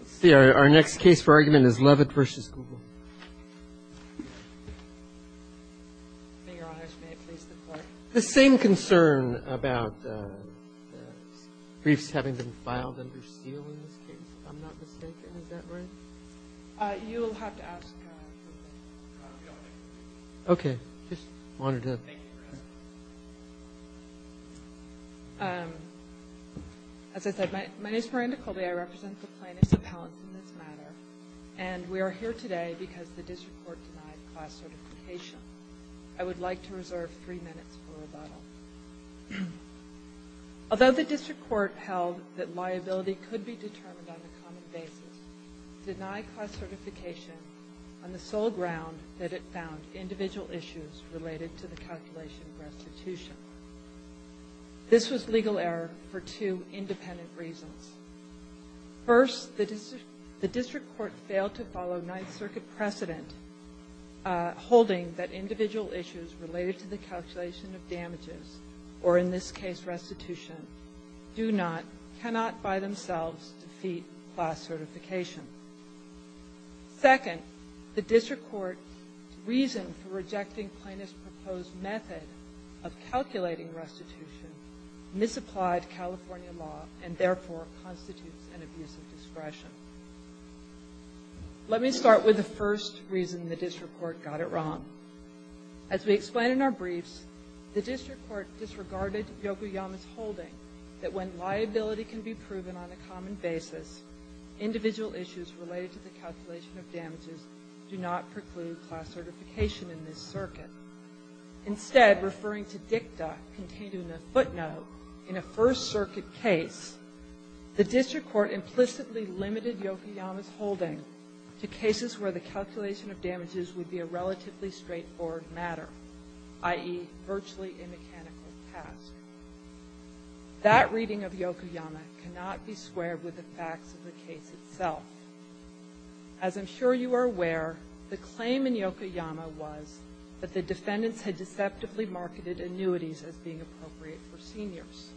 Let's see, our next case for argument is Levitte v. Google. The same concern about briefs having been filed under seal in this case, if I'm not mistaken, is that right? You'll have to ask. Okay. As I said, my name is Miranda Colby. I represent the plaintiffs' appellants in this matter. And we are here today because the district court denied class certification. I would like to reserve three minutes for rebuttal. Although the district court held that liability could be determined on a common basis, it denied class certification on the sole ground that it found individual issues related to the calculation of restitution. This was legal error for two independent reasons. First, the district court failed to follow Ninth Circuit precedent holding that individual issues related to the calculation of damages, or in this case restitution, do not, cannot by themselves defeat class certification. Second, the district court's reason for rejecting plaintiff's proposed method of calculating restitution misapplied California law and therefore constitutes an abuse of discretion. Let me start with the first reason the district court got it wrong. As we explain in our briefs, the district court disregarded Yokoyama's holding that when liability can be proven on a common basis, individual issues related to the calculation of damages do not preclude class certification in this circuit. Instead, referring to dicta contained in the footnote in a First Circuit case, the district court implicitly limited Yokoyama's holding to cases where the calculation of damages would be a relatively straightforward matter, i.e., virtually a mechanical task. That reading of Yokoyama cannot be squared with the facts of the case itself. As I'm sure you are aware, the claim in Yokoyama was that the defendants had deceptively marketed annuities as being appropriate for seniors.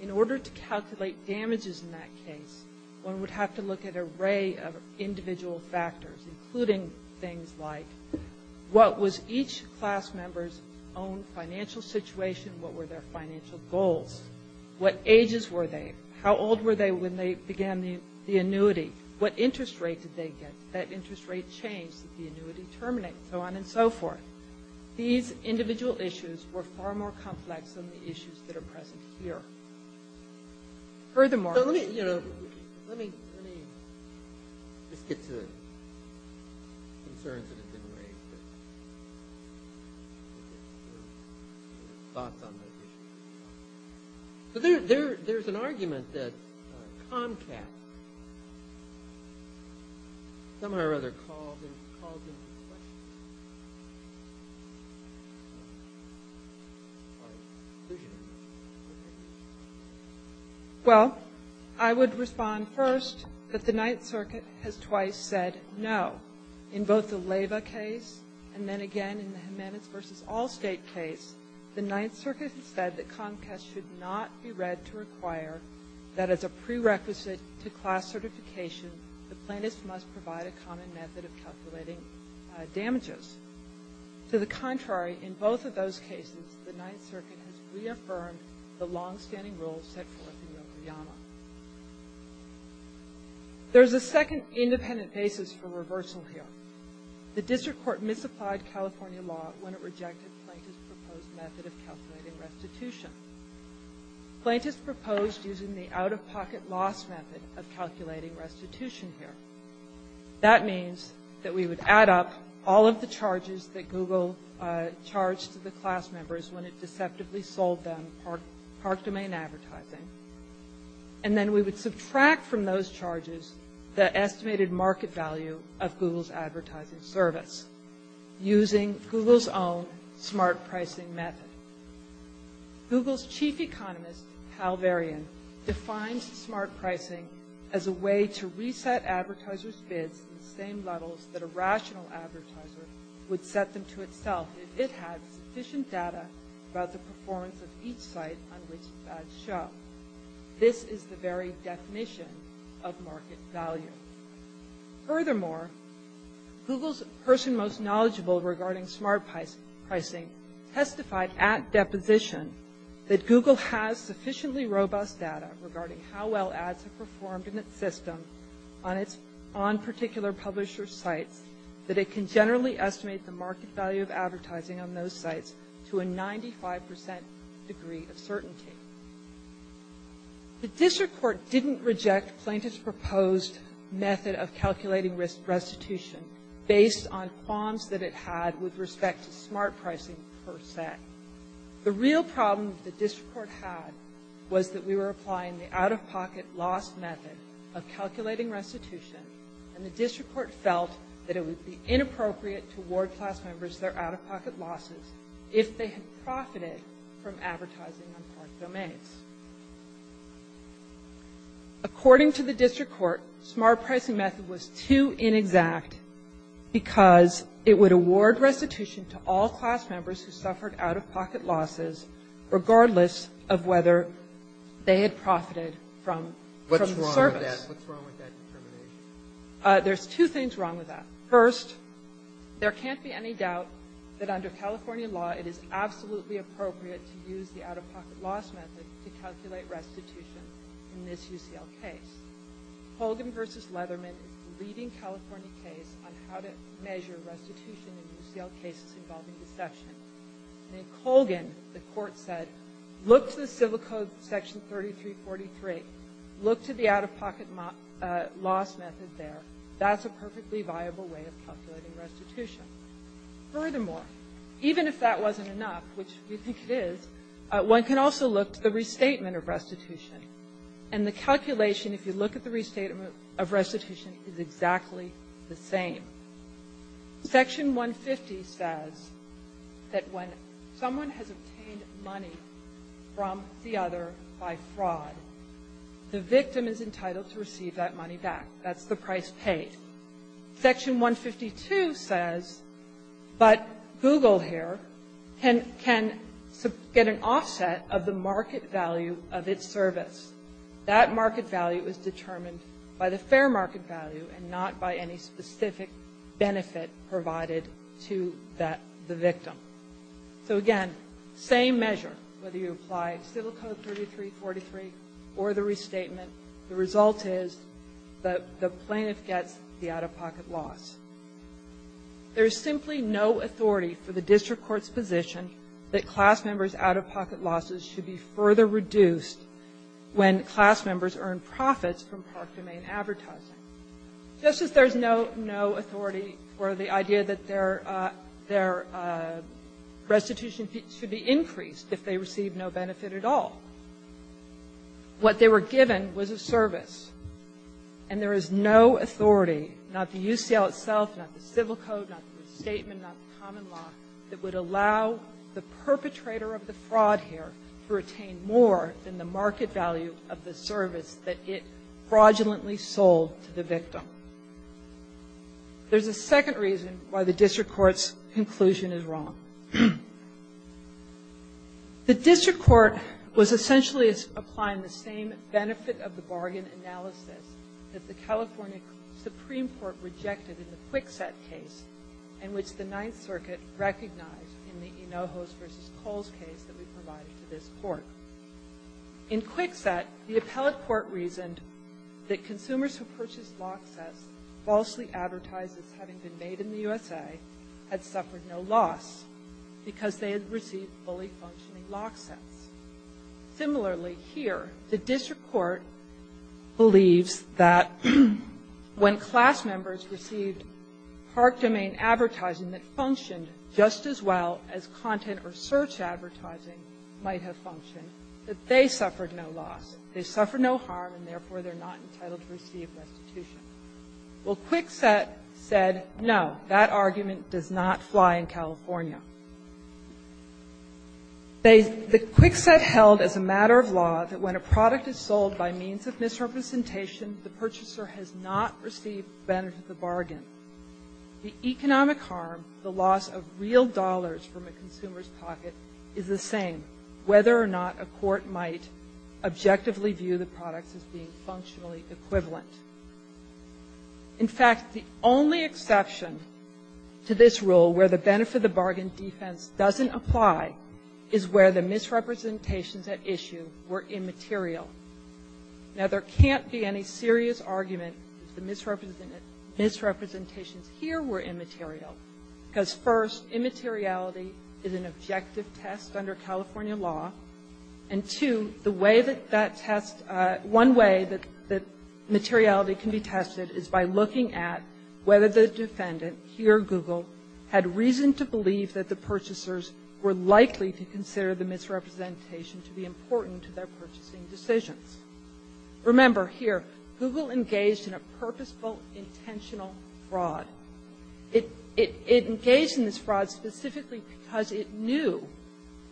In order to calculate damages in that case, one would have to look at an array of individual factors, including things like what was each class member's own financial situation? What were their financial goals? What ages were they? How old were they when they began the annuity? What interest rate did they get? Did that interest rate change? Did the annuity terminate? So on and so forth. These individual issues were far more complex than the issues that are present here. Furthermore, let me just get to the concerns that have been raised. Thoughts on those issues. There's an argument that Comcast somehow or other calls into question. Well, I would respond first that the Ninth Circuit has twice said no. In both the Leyva case and then again in the Jimenez v. Allstate case, the Ninth Circuit has said that Comcast should not be read to require that as a prerequisite to class certification, the plaintiffs must provide a common method of calculating damages. To the contrary, in both of those cases, the Ninth Circuit has reaffirmed the long-standing rules set forth in Yokoyama. There's a second independent basis for reversal here. The district court misapplied California law when it rejected the plaintiff's proposed method of calculating restitution. Plaintiffs proposed using the out-of-pocket loss method of calculating restitution here. That means that we would add up all of the charges that Google charged to the class members when it deceptively sold them Park Domain advertising, and then we would subtract from those charges the estimated market value of Google's advertising service using Google's own smart pricing method. Google's chief economist, Hal Varian, defines smart pricing as a way to reset advertisers' bids to the same levels that a rational advertiser would set them to itself if it had sufficient data about the performance of each site on which ads show. This is the very definition of market value. Furthermore, Google's person most knowledgeable regarding smart pricing testified at deposition that Google has sufficiently robust data regarding how well ads have performed in its system on particular publisher sites that it can generally estimate the market value of advertising on those sites to a 95% degree of certainty. The district court didn't reject plaintiff's proposed method of calculating restitution based on qualms that it had with respect to smart pricing per set. The real problem that the district court had was that we were applying the out-of-pocket loss method of calculating restitution, and the district court felt that it would be inappropriate to award class members their out-of-pocket losses if they had profited from advertising on Park Domains. According to the district court, smart pricing method was too inexact because it would award restitution to all class members who suffered out-of-pocket losses regardless of whether they had profited from the service. What's wrong with that determination? There's two things wrong with that. First, there can't be any doubt that under California law it is absolutely appropriate to use the out-of-pocket loss method to calculate restitution in this UCL case. Colgan v. Leatherman is the leading California case on how to measure restitution in UCL cases involving deception. And in Colgan, the court said, look to the Civil Code Section 3343. Look to the out-of-pocket loss method there. That's a perfectly viable way of calculating restitution. Furthermore, even if that wasn't enough, which we think it is, one can also look to the restatement of restitution. And the calculation, if you look at the restatement of restitution, is exactly the same. Section 150 says that when someone has obtained money from the other by fraud, the victim is entitled to receive that money back. That's the price paid. Section 152 says, but Google here can get an offset of the out-of-pocket loss. That market value is determined by the fair market value and not by any specific benefit provided to the victim. So, again, same measure, whether you apply Civil Code 3343 or the restatement, the result is the plaintiff gets the out-of-pocket loss. There is simply no authority for the district court's position that class members' out-of-pocket losses should be further reduced when class members earn profits from park domain advertising. Just as there's no authority for the idea that their restitution should be increased if they receive no benefit at all. What they were given was a service. And there is no authority, not the UCL itself, not the Civil Code, not the Statement, not the common law, that would allow the perpetrator of the fraud here to retain more than the market value of the service that it fraudulently sold to the victim. There's a second reason why the district court's conclusion is wrong. The district court was essentially applying the same benefit of the bargain analysis that the California Supreme Court rejected in the Kwikset case in which the Ninth Circuit recognized in the Enojos v. Coles case that we provided to this Court. In Kwikset, the appellate court reasoned that consumers who purchased lock sets falsely advertised as having been made in the USA had suffered no loss because they had received fully functioning lock sets. Similarly, here, the district court believes that when class members received park domain advertising that functioned just as well as content or search advertising might have functioned, that they suffered no loss. They suffered no harm, and therefore, they're not entitled to receive restitution. Well, Kwikset said, no, that argument does not fly in California. The Kwikset held as a matter of law that when a product is sold by means of misrepresentation, the purchaser has not received the benefit of the bargain. The economic harm, the loss of real dollars from a consumer's pocket, is the same, whether or not a court might objectively view the products as being functionally equivalent. In fact, the only exception to this rule where the benefit of the bargain defense doesn't apply is where the misrepresentations at issue were immaterial. Now, there can't be any serious argument that the misrepresentations here were immaterial because, first, immateriality is an objective test under California law, and, two, the way that that test — one way that materiality can be tested is by looking at whether the defendant, here Google, had reason to believe that the purchasers were likely to consider the misrepresentation to be important to their purchasing decisions. Remember, here, Google engaged in a purposeful, intentional fraud. It engaged in this fraud specifically because it knew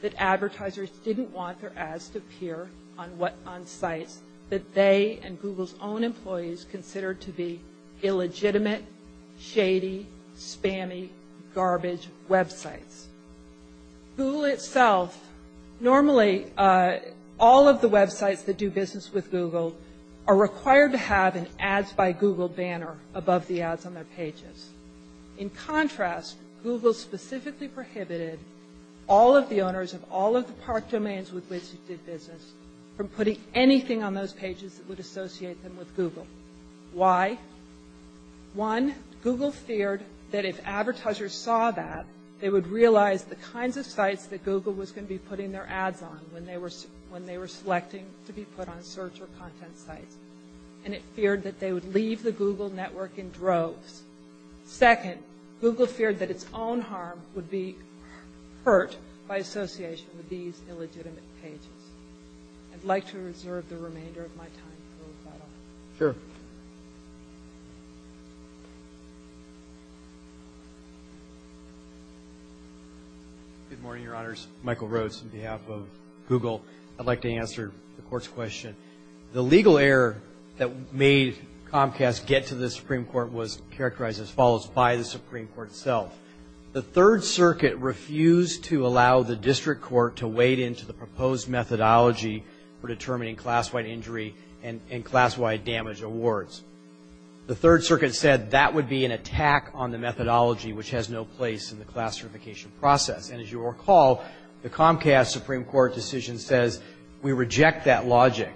that advertisers didn't want their ads to appear on sites that they and Google's own employees considered to be illegitimate, shady, spammy, garbage websites. Google itself — normally, all of the websites that do business with Google are going to put ads on their pages. In contrast, Google specifically prohibited all of the owners of all of the park domains with which it did business from putting anything on those pages that would associate them with Google. Why? One, Google feared that if advertisers saw that, they would realize the kinds of sites that Google was going to be putting their ads on when they were selecting to be put on search or content sites, and it feared that they would leave the Google network in droves. Second, Google feared that its own harm would be hurt by association with these illegitimate pages. I'd like to reserve the remainder of my time for rebuttal. Sure. Good morning, Your Honors. Michael Rhodes on behalf of Google. I'd like to answer the Court's question. The legal error that made Comcast get to the Supreme Court was characterized as follows by the Supreme Court itself. The Third Circuit refused to allow the District Court to wade into the proposed methodology for determining class-wide injury and class-wide damage awards. The Third Circuit said that would be an attack on the methodology which has no place in the class certification process. And as you recall, the Comcast Supreme Court decision says we reject that logic.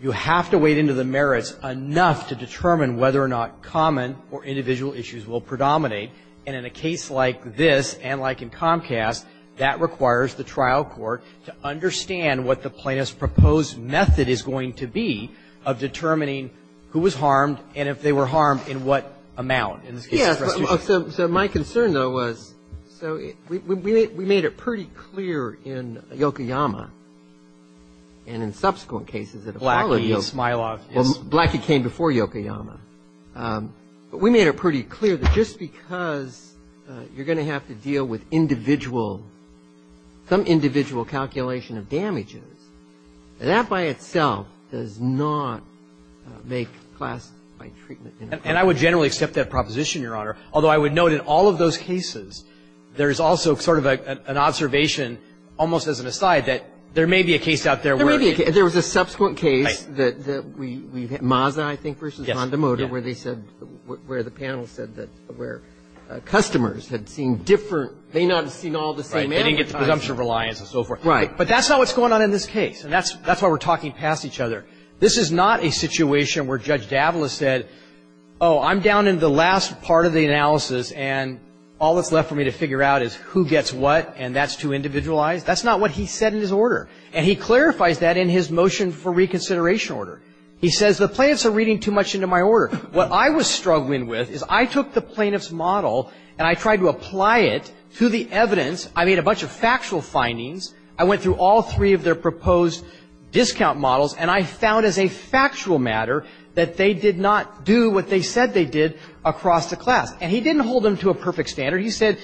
You have to wade into the merits enough to determine whether or not common or individual issues will predominate. And in a case like this and like in Comcast, that requires the trial court to understand what the plaintiff's proposed method is going to be of determining who was harmed and if they were harmed in what amount. So my concern, though, was so we made it pretty clear in Yokoyama and in subsequent cases that have followed Yokoyama. Blackie came before Yokoyama. But we made it pretty clear that just because you're going to have to deal with individual, some individual calculation of damages, that by itself does not make class-wide treatment. And I would generally accept that proposition, Your Honor, although I would note in all of those cases, there is also sort of an observation almost as an aside that there may be a case out there where. There may be a case. There was a subsequent case that we had, Mazda, I think, versus Honda Motor, where they said, where the panel said that where customers had seen different, they may not have seen all the same. They didn't get the presumption of reliance and so forth. Right. But that's not what's going on in this case. And that's why we're talking past each other. This is not a situation where Judge Davila said, oh, I'm down in the last part of the analysis. And all that's left for me to figure out is who gets what. And that's too individualized. That's not what he said in his order. And he clarifies that in his motion for reconsideration order. He says the plaintiffs are reading too much into my order. What I was struggling with is I took the plaintiff's model and I tried to apply it to the evidence. I made a bunch of factual findings. I went through all three of their proposed discount models and I found as a factual matter that they did not do what they said they did across the class. And he didn't hold them to a perfect standard. He said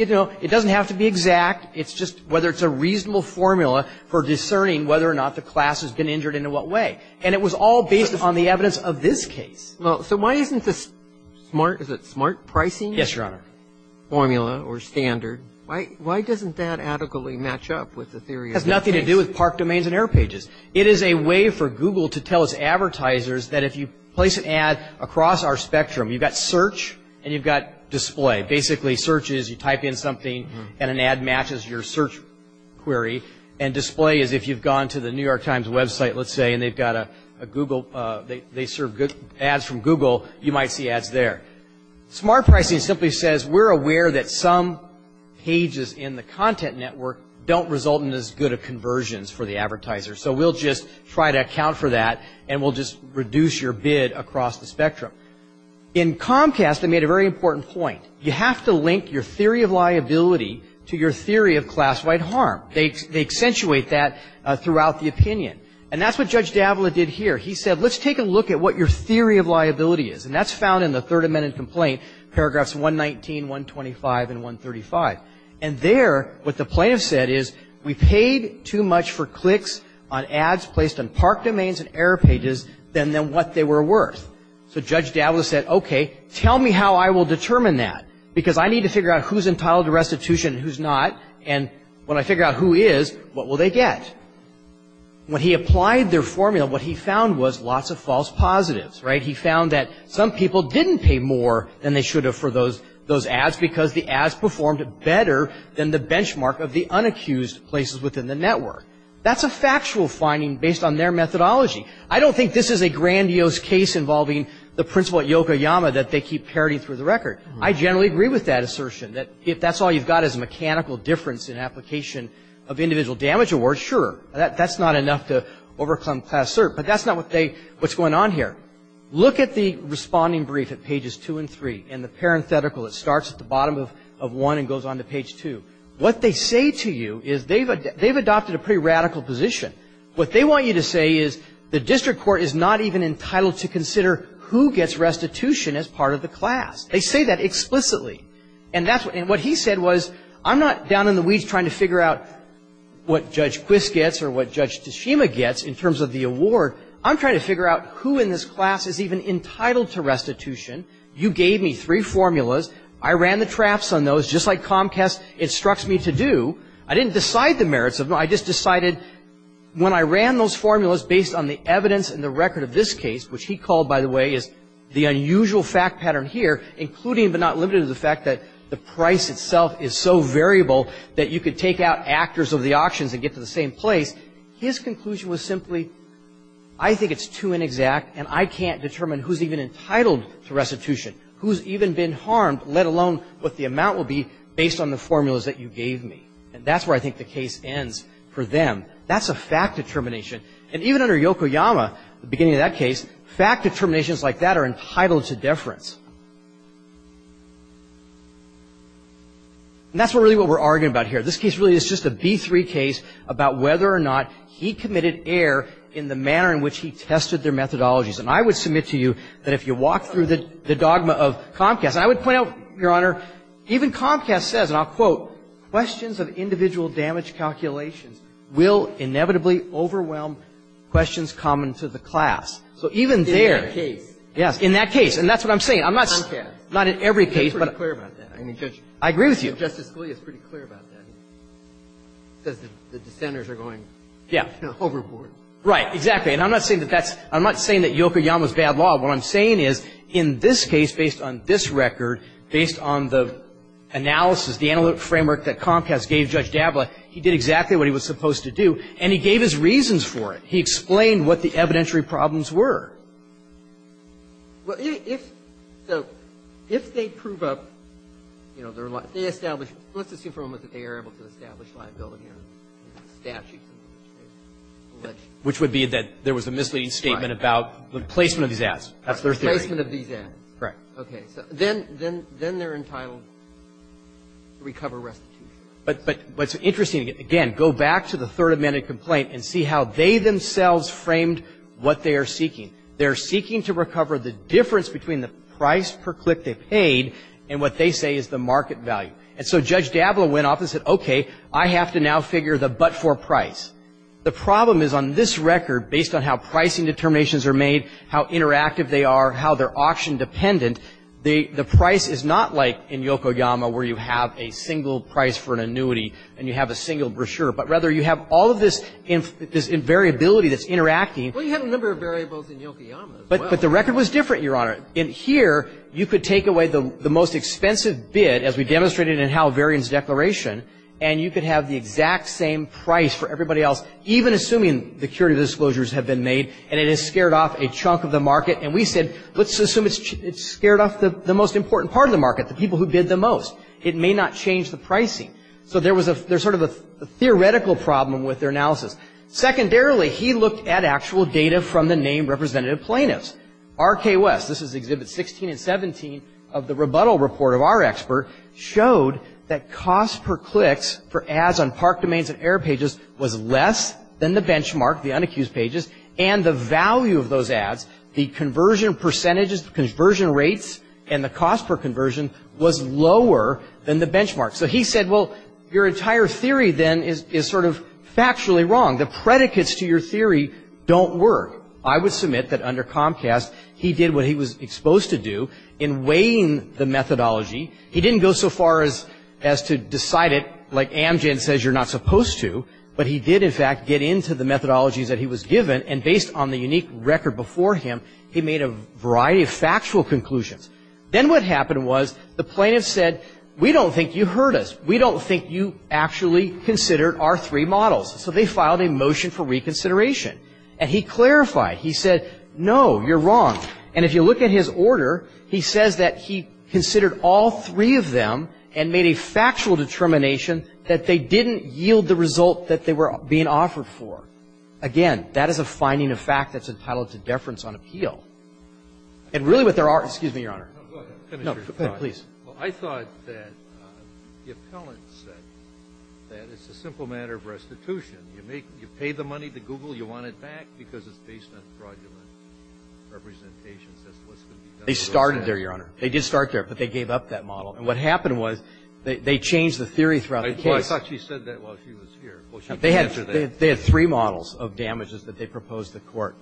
it doesn't have to be exact. It's just whether it's a reasonable formula for discerning whether or not the class has been injured and in what way. And it was all based on the evidence of this case. So why isn't this smart? Is it smart pricing? Yes, Your Honor. Formula or standard. Why doesn't that adequately match up with the theory? It has nothing to do with park domains and air pages. It is a way for Google to tell its advertisers that if you place an ad across our spectrum, you've got search and you've got display. Basically, search is you type in something and an ad matches your search query. And display is if you've gone to the New York Times website, let's say, and they've got a Google, they serve ads from Google, you might see ads there. Smart pricing simply says we're aware that some pages in the content network don't result in as good of conversions for the advertiser. So we'll just try to account for that and we'll just reduce your bid across the spectrum. In Comcast, they made a very important point. You have to link your theory of liability to your theory of class-wide harm. They accentuate that throughout the opinion. And that's what Judge Davila did here. He said, let's take a look at what your theory of liability is. And that's found in the Third Amendment complaint, paragraphs 119, 125, and 135. And there, what the plaintiff said is, we paid too much for clicks on ads placed on park domains and error pages than what they were worth. So Judge Davila said, okay, tell me how I will determine that, because I need to figure out who's entitled to restitution and who's not. And when I figure out who is, what will they get? When he applied their formula, what he found was lots of false positives, right? He found that some people didn't pay more than they should have for those ads because the ads performed better than the benchmark of the unaccused places within the network. That's a factual finding based on their methodology. I don't think this is a grandiose case involving the principal at Yokoyama that they keep parroting through the record. I generally agree with that assertion, that if that's all you've got is a mechanical difference in application of individual damage awards, sure. That's not enough to overcome class cert. But that's not what they – what's going on here. Look at the responding brief at pages 2 and 3 and the parenthetical. It starts at the bottom of 1 and goes on to page 2. What they say to you is they've adopted a pretty radical position. What they want you to say is the district court is not even entitled to consider who gets restitution as part of the class. They say that explicitly. And what he said was I'm not down in the weeds trying to figure out what Judge Quist gets or what Judge Tashima gets in terms of the award. I'm trying to figure out who in this class is even entitled to restitution. You gave me three formulas. I ran the traps on those just like Comcast instructs me to do. I didn't decide the merits of them. I just decided when I ran those formulas based on the evidence and the record of this case, which he called, by the way, is the unusual fact pattern here, including but not limited to the fact that the price itself is so variable that you could take out actors of the auctions and get to the same place. His conclusion was simply I think it's too inexact, and I can't determine who's even entitled to restitution, who's even been harmed, let alone what the amount will be based on the formulas that you gave me. And that's where I think the case ends for them. That's a fact determination. And even under Yokoyama, the beginning of that case, fact determinations like that are entitled to deference. And that's really what we're arguing about here. This case really is just a B-3 case about whether or not he committed error in the manner in which he tested their methodologies. And I would submit to you that if you walk through the dogma of Comcast, and I would point out, Your Honor, even Comcast says, and I'll quote, questions of individual damage calculations will inevitably overwhelm questions common to the class. So even there — In that case. Yes, in that case. And that's what I'm saying. Comcast. Not in every case, but — He's pretty clear about that. I agree with you. Justice Scalia is pretty clear about that. He says that the dissenters are going — Yeah. — you know, overboard. Right. Exactly. And I'm not saying that that's — I'm not saying that Yokoyama's bad law. What I'm saying is, in this case, based on this record, based on the analysis, the analytic framework that Comcast gave Judge Dabla, he did exactly what he was supposed to do, and he gave his reasons for it. He explained what the evidentiary problems were. Well, if — so if they prove up, you know, their — they establish — let's assume for a moment that they are able to establish liability on statutes. Which would be that there was a misleading statement about the placement of these ads. That's their theory. Placement of these ads. Correct. Okay. So then — then they're entitled to recover restitution. But what's interesting, again, go back to the Third Amendment complaint and see how they themselves framed what they are seeking. They're seeking to recover the difference between the price per click they paid and what they say is the market value. And so Judge Dabla went off and said, okay, I have to now figure the but-for price. The problem is, on this record, based on how pricing determinations are made, how interactive they are, how they're auction-dependent, the price is not like in Yokoyama where you have a single price for an annuity and you have a single brochure, but rather you have all of this variability that's interacting. Well, you have a number of variables in Yokoyama as well. But the record was different, Your Honor. In here, you could take away the most expensive bid, as we demonstrated in Hal Varian's declaration, and you could have the exact same price for everybody else, even assuming the curative disclosures have been made and it has scared off a chunk of the market. And we said, let's assume it's scared off the most important part of the market, the people who bid the most. It may not change the pricing. So there was a — there's sort of a theoretical problem with their analysis. Secondarily, he looked at actual data from the named representative plaintiffs. R.K. West, this is Exhibits 16 and 17 of the rebuttal report of our expert, showed that cost per clicks for ads on park domains and air pages was less than the benchmark, the unaccused pages, and the value of those ads, the conversion percentages, the conversion rates, and the cost per conversion was lower than the benchmark. So he said, well, your entire theory then is sort of factually wrong. The predicates to your theory don't work. I would submit that under Comcast, he did what he was exposed to do in weighing the methodology. He didn't go so far as to decide it like Amgen says you're not supposed to, but he did, in fact, get into the methodologies that he was given, and based on the unique record before him, he made a variety of factual conclusions. Then what happened was the plaintiffs said, we don't think you heard us. We don't think you actually considered our three models. So they filed a motion for reconsideration. And he clarified. He said, no, you're wrong. And if you look at his order, he says that he considered all three of them and made a factual determination that they didn't yield the result that they were being offered for. Again, that is a finding of fact that's entitled to deference on appeal. And really what there are – excuse me, Your Honor. No, go ahead. No, please. Well, I thought that the appellant said that it's a simple matter of restitution. You pay the money to Google, you want it back because it's based on fraudulent representations as to what's going to be done. They started there, Your Honor. They did start there, but they gave up that model. And what happened was they changed the theory throughout the case. I thought she said that while she was here. Well, she didn't answer that. They had three models of damages that they proposed to court.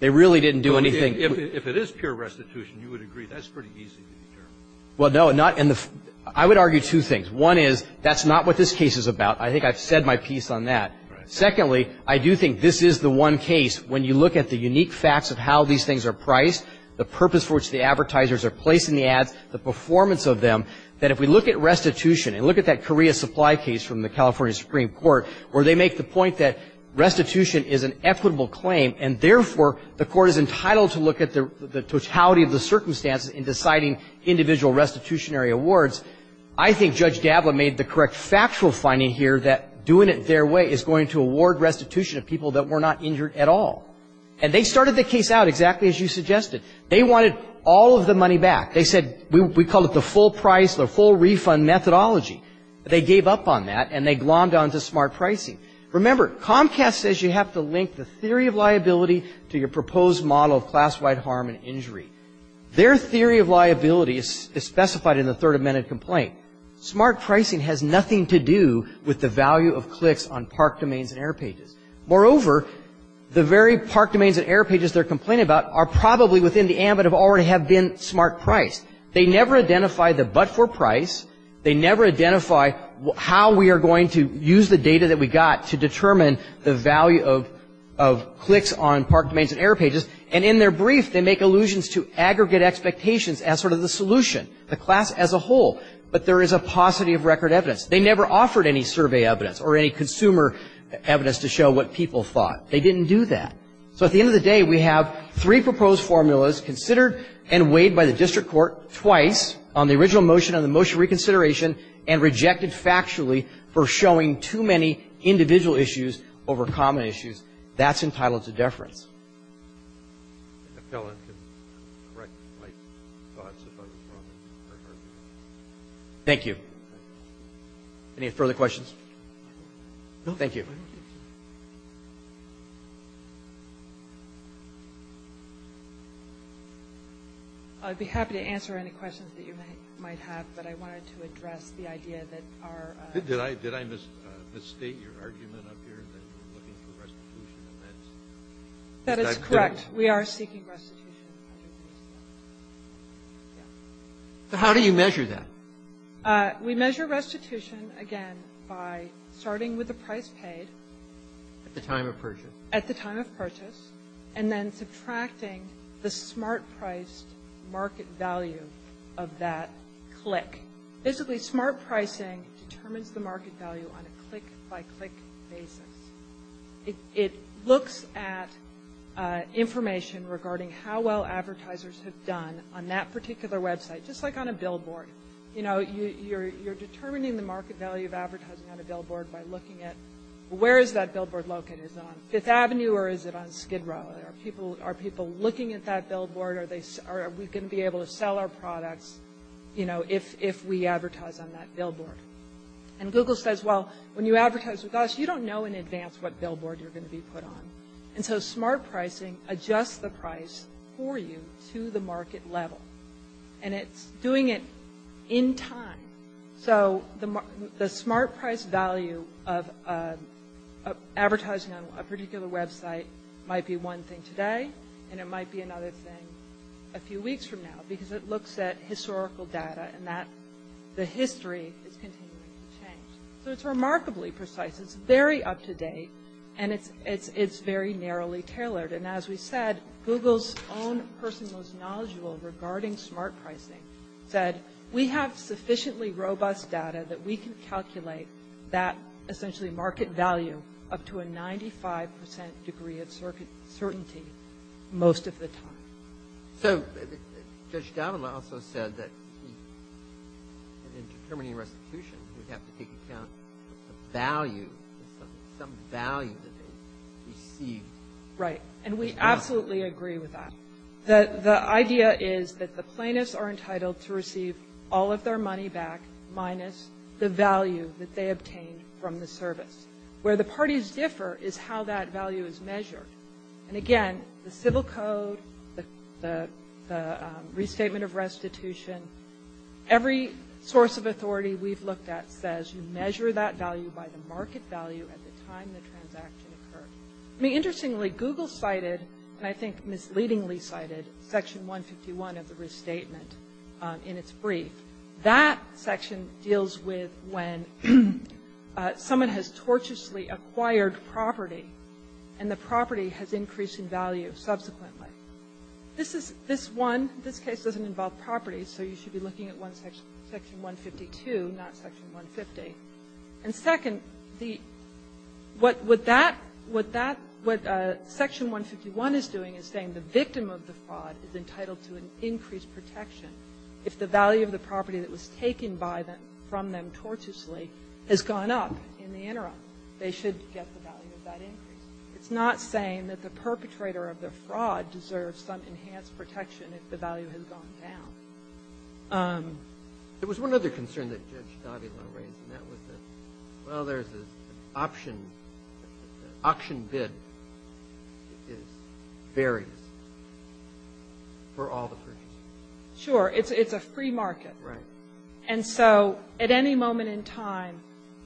They really didn't do anything. If it is pure restitution, you would agree that's pretty easy to determine. Well, no, not in the – I would argue two things. One is that's not what this case is about. I think I've said my piece on that. Right. Secondly, I do think this is the one case when you look at the unique facts of how these things are priced, the purpose for which the advertisers are placing the ads, the performance of them, that if we look at restitution and look at that Korea supply case from the California Supreme Court where they make the point that restitution is an equitable claim and, therefore, the court is entitled to look at the totality of the circumstances in deciding individual restitutionary awards, I think Judge Gable made the correct factual finding here that doing it their way is going to award restitution to people that were not injured at all. And they started the case out exactly as you suggested. They wanted all of the money back. They said we call it the full price, the full refund methodology. They gave up on that, and they glommed on to smart pricing. Remember, Comcast says you have to link the theory of liability to your proposed model of class-wide harm and injury. Their theory of liability is specified in the Third Amendment complaint. Smart pricing has nothing to do with the value of clicks on park domains and air pages. Moreover, the very park domains and air pages they're complaining about are probably within the ambit of already have been smart priced. They never identified the but-for price. They never identify how we are going to use the data that we got to determine the value of clicks on park domains and air pages. And in their brief, they make allusions to aggregate expectations as sort of the solution, the class as a whole. But there is a paucity of record evidence. They never offered any survey evidence or any consumer evidence to show what people thought. They didn't do that. So at the end of the day, we have three proposed formulas, considered and weighed by the district court twice on the original motion and the motion reconsideration and rejected factually for showing too many individual issues over common issues. That's entitled to deference. Thank you. Any further questions? Thank you. I'd be happy to answer any questions that you might have, but I wanted to address the idea that our Did I misstate your argument up here that you're looking for restitution? That is correct. We are seeking restitution. How do you measure that? We measure restitution, again, by starting with the price paid. At the time of purchase. At the time of purchase. And then subtracting the smart priced market value of that click. Basically, smart pricing determines the market value on a click-by-click basis. It looks at information regarding how well advertisers have done on that particular website, just like on a billboard. You know, you're determining the market value of advertising on a billboard by looking at where is that billboard located? Is it on Fifth Avenue or is it on Skid Row? Are people looking at that billboard? Are we going to be able to sell our products? You know, if we advertise on that billboard. And Google says, well, when you advertise with us, you don't know in advance what billboard you're going to be put on. And so smart pricing adjusts the price for you to the market level. And it's doing it in time. So the smart price value of advertising on a particular website might be one thing today, and it might be another thing a few weeks from now because it looks at historical data and that the history is continuing to change. So it's remarkably precise. It's very up-to-date. And it's very narrowly tailored. And as we said, Google's own person who was knowledgeable regarding smart pricing said, we have sufficiently robust data that we can calculate that essentially market value up to a 95% degree of certainty most of the time. So Judge Davila also said that in determining restitution, you have to take account of value, some value that they receive. Right. And we absolutely agree with that. The idea is that the plaintiffs are entitled to receive all of their money back, minus the value that they obtain from the service. Where the parties differ is how that value is measured. And again, the civil code, the restatement of restitution, every source of authority we've looked at says you measure that value by the market value at the time the transaction occurred. I mean, interestingly, Google cited, and I think misleadingly cited, Section 151 of the restatement in its brief. That section deals with when someone has tortuously acquired property, and the property has increased in value subsequently. This is one. This case doesn't involve property, so you should be looking at Section 152, not Section 150. And second, the what that, what that, what Section 151 is doing is saying the victim of the fraud is entitled to an increased protection if the value of the property that was taken by them, from them tortuously, has gone up in the interim. They should get the value of that increase. It's not saying that the perpetrator of the fraud deserves some enhanced protection if the value has gone down. It was one other concern that Judge Davila raised, and that was that, well, there's an option, auction bid is various for all the purchasers. Sure. It's a free market. Right. And so at any moment in time,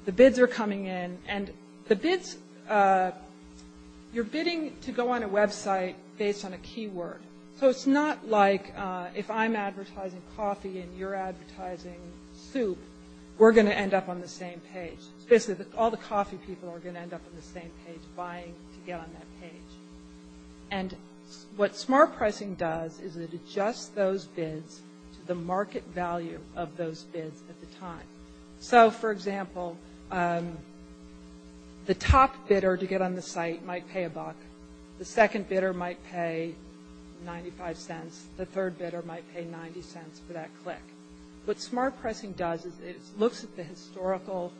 the bids are coming in, and the bids, you're bidding to go on a website based on a keyword. So it's not like if I'm advertising coffee and you're advertising soup, we're going to end up on the same page. Basically, all the coffee people are going to end up on the same page, buying to get on that page. And what smart pricing does is it adjusts those bids to the market value of those bids at the time. So, for example, the top bidder to get on the site might pay a buck. The second bidder might pay $0.95. The third bidder might pay $0.90 for that click. What smart pricing does is it looks at the historical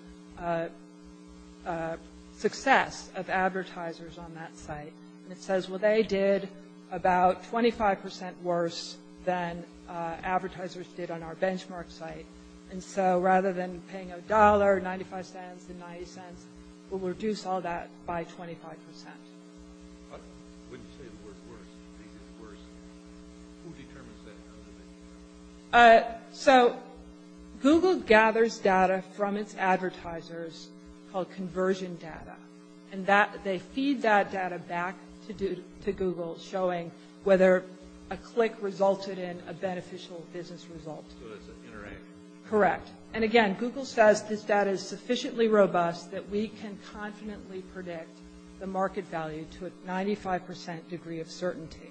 success of advertisers on that site, and it says, well, they did about 25% worse than advertisers did on our benchmark site. And so rather than paying $1, $0.95, $0.90, we'll reduce all that by 25%. When you say the word worse, who determines that? So Google gathers data from its advertisers called conversion data, and they feed that data back to Google showing whether a click resulted in a beneficial business result. Correct. And, again, Google says this data is sufficiently robust that we can confidently predict the market value to a 95% degree of certainty.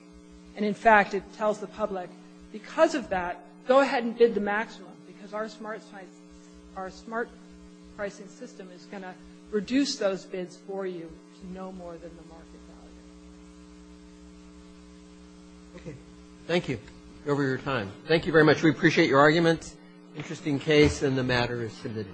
And, in fact, it tells the public, because of that, go ahead and bid the maximum, because our smart pricing system is going to reduce those bids for you to no more than the market value. Okay. Thank you for your time. Thank you very much. We appreciate your arguments. Interesting case, and the matter is submitted.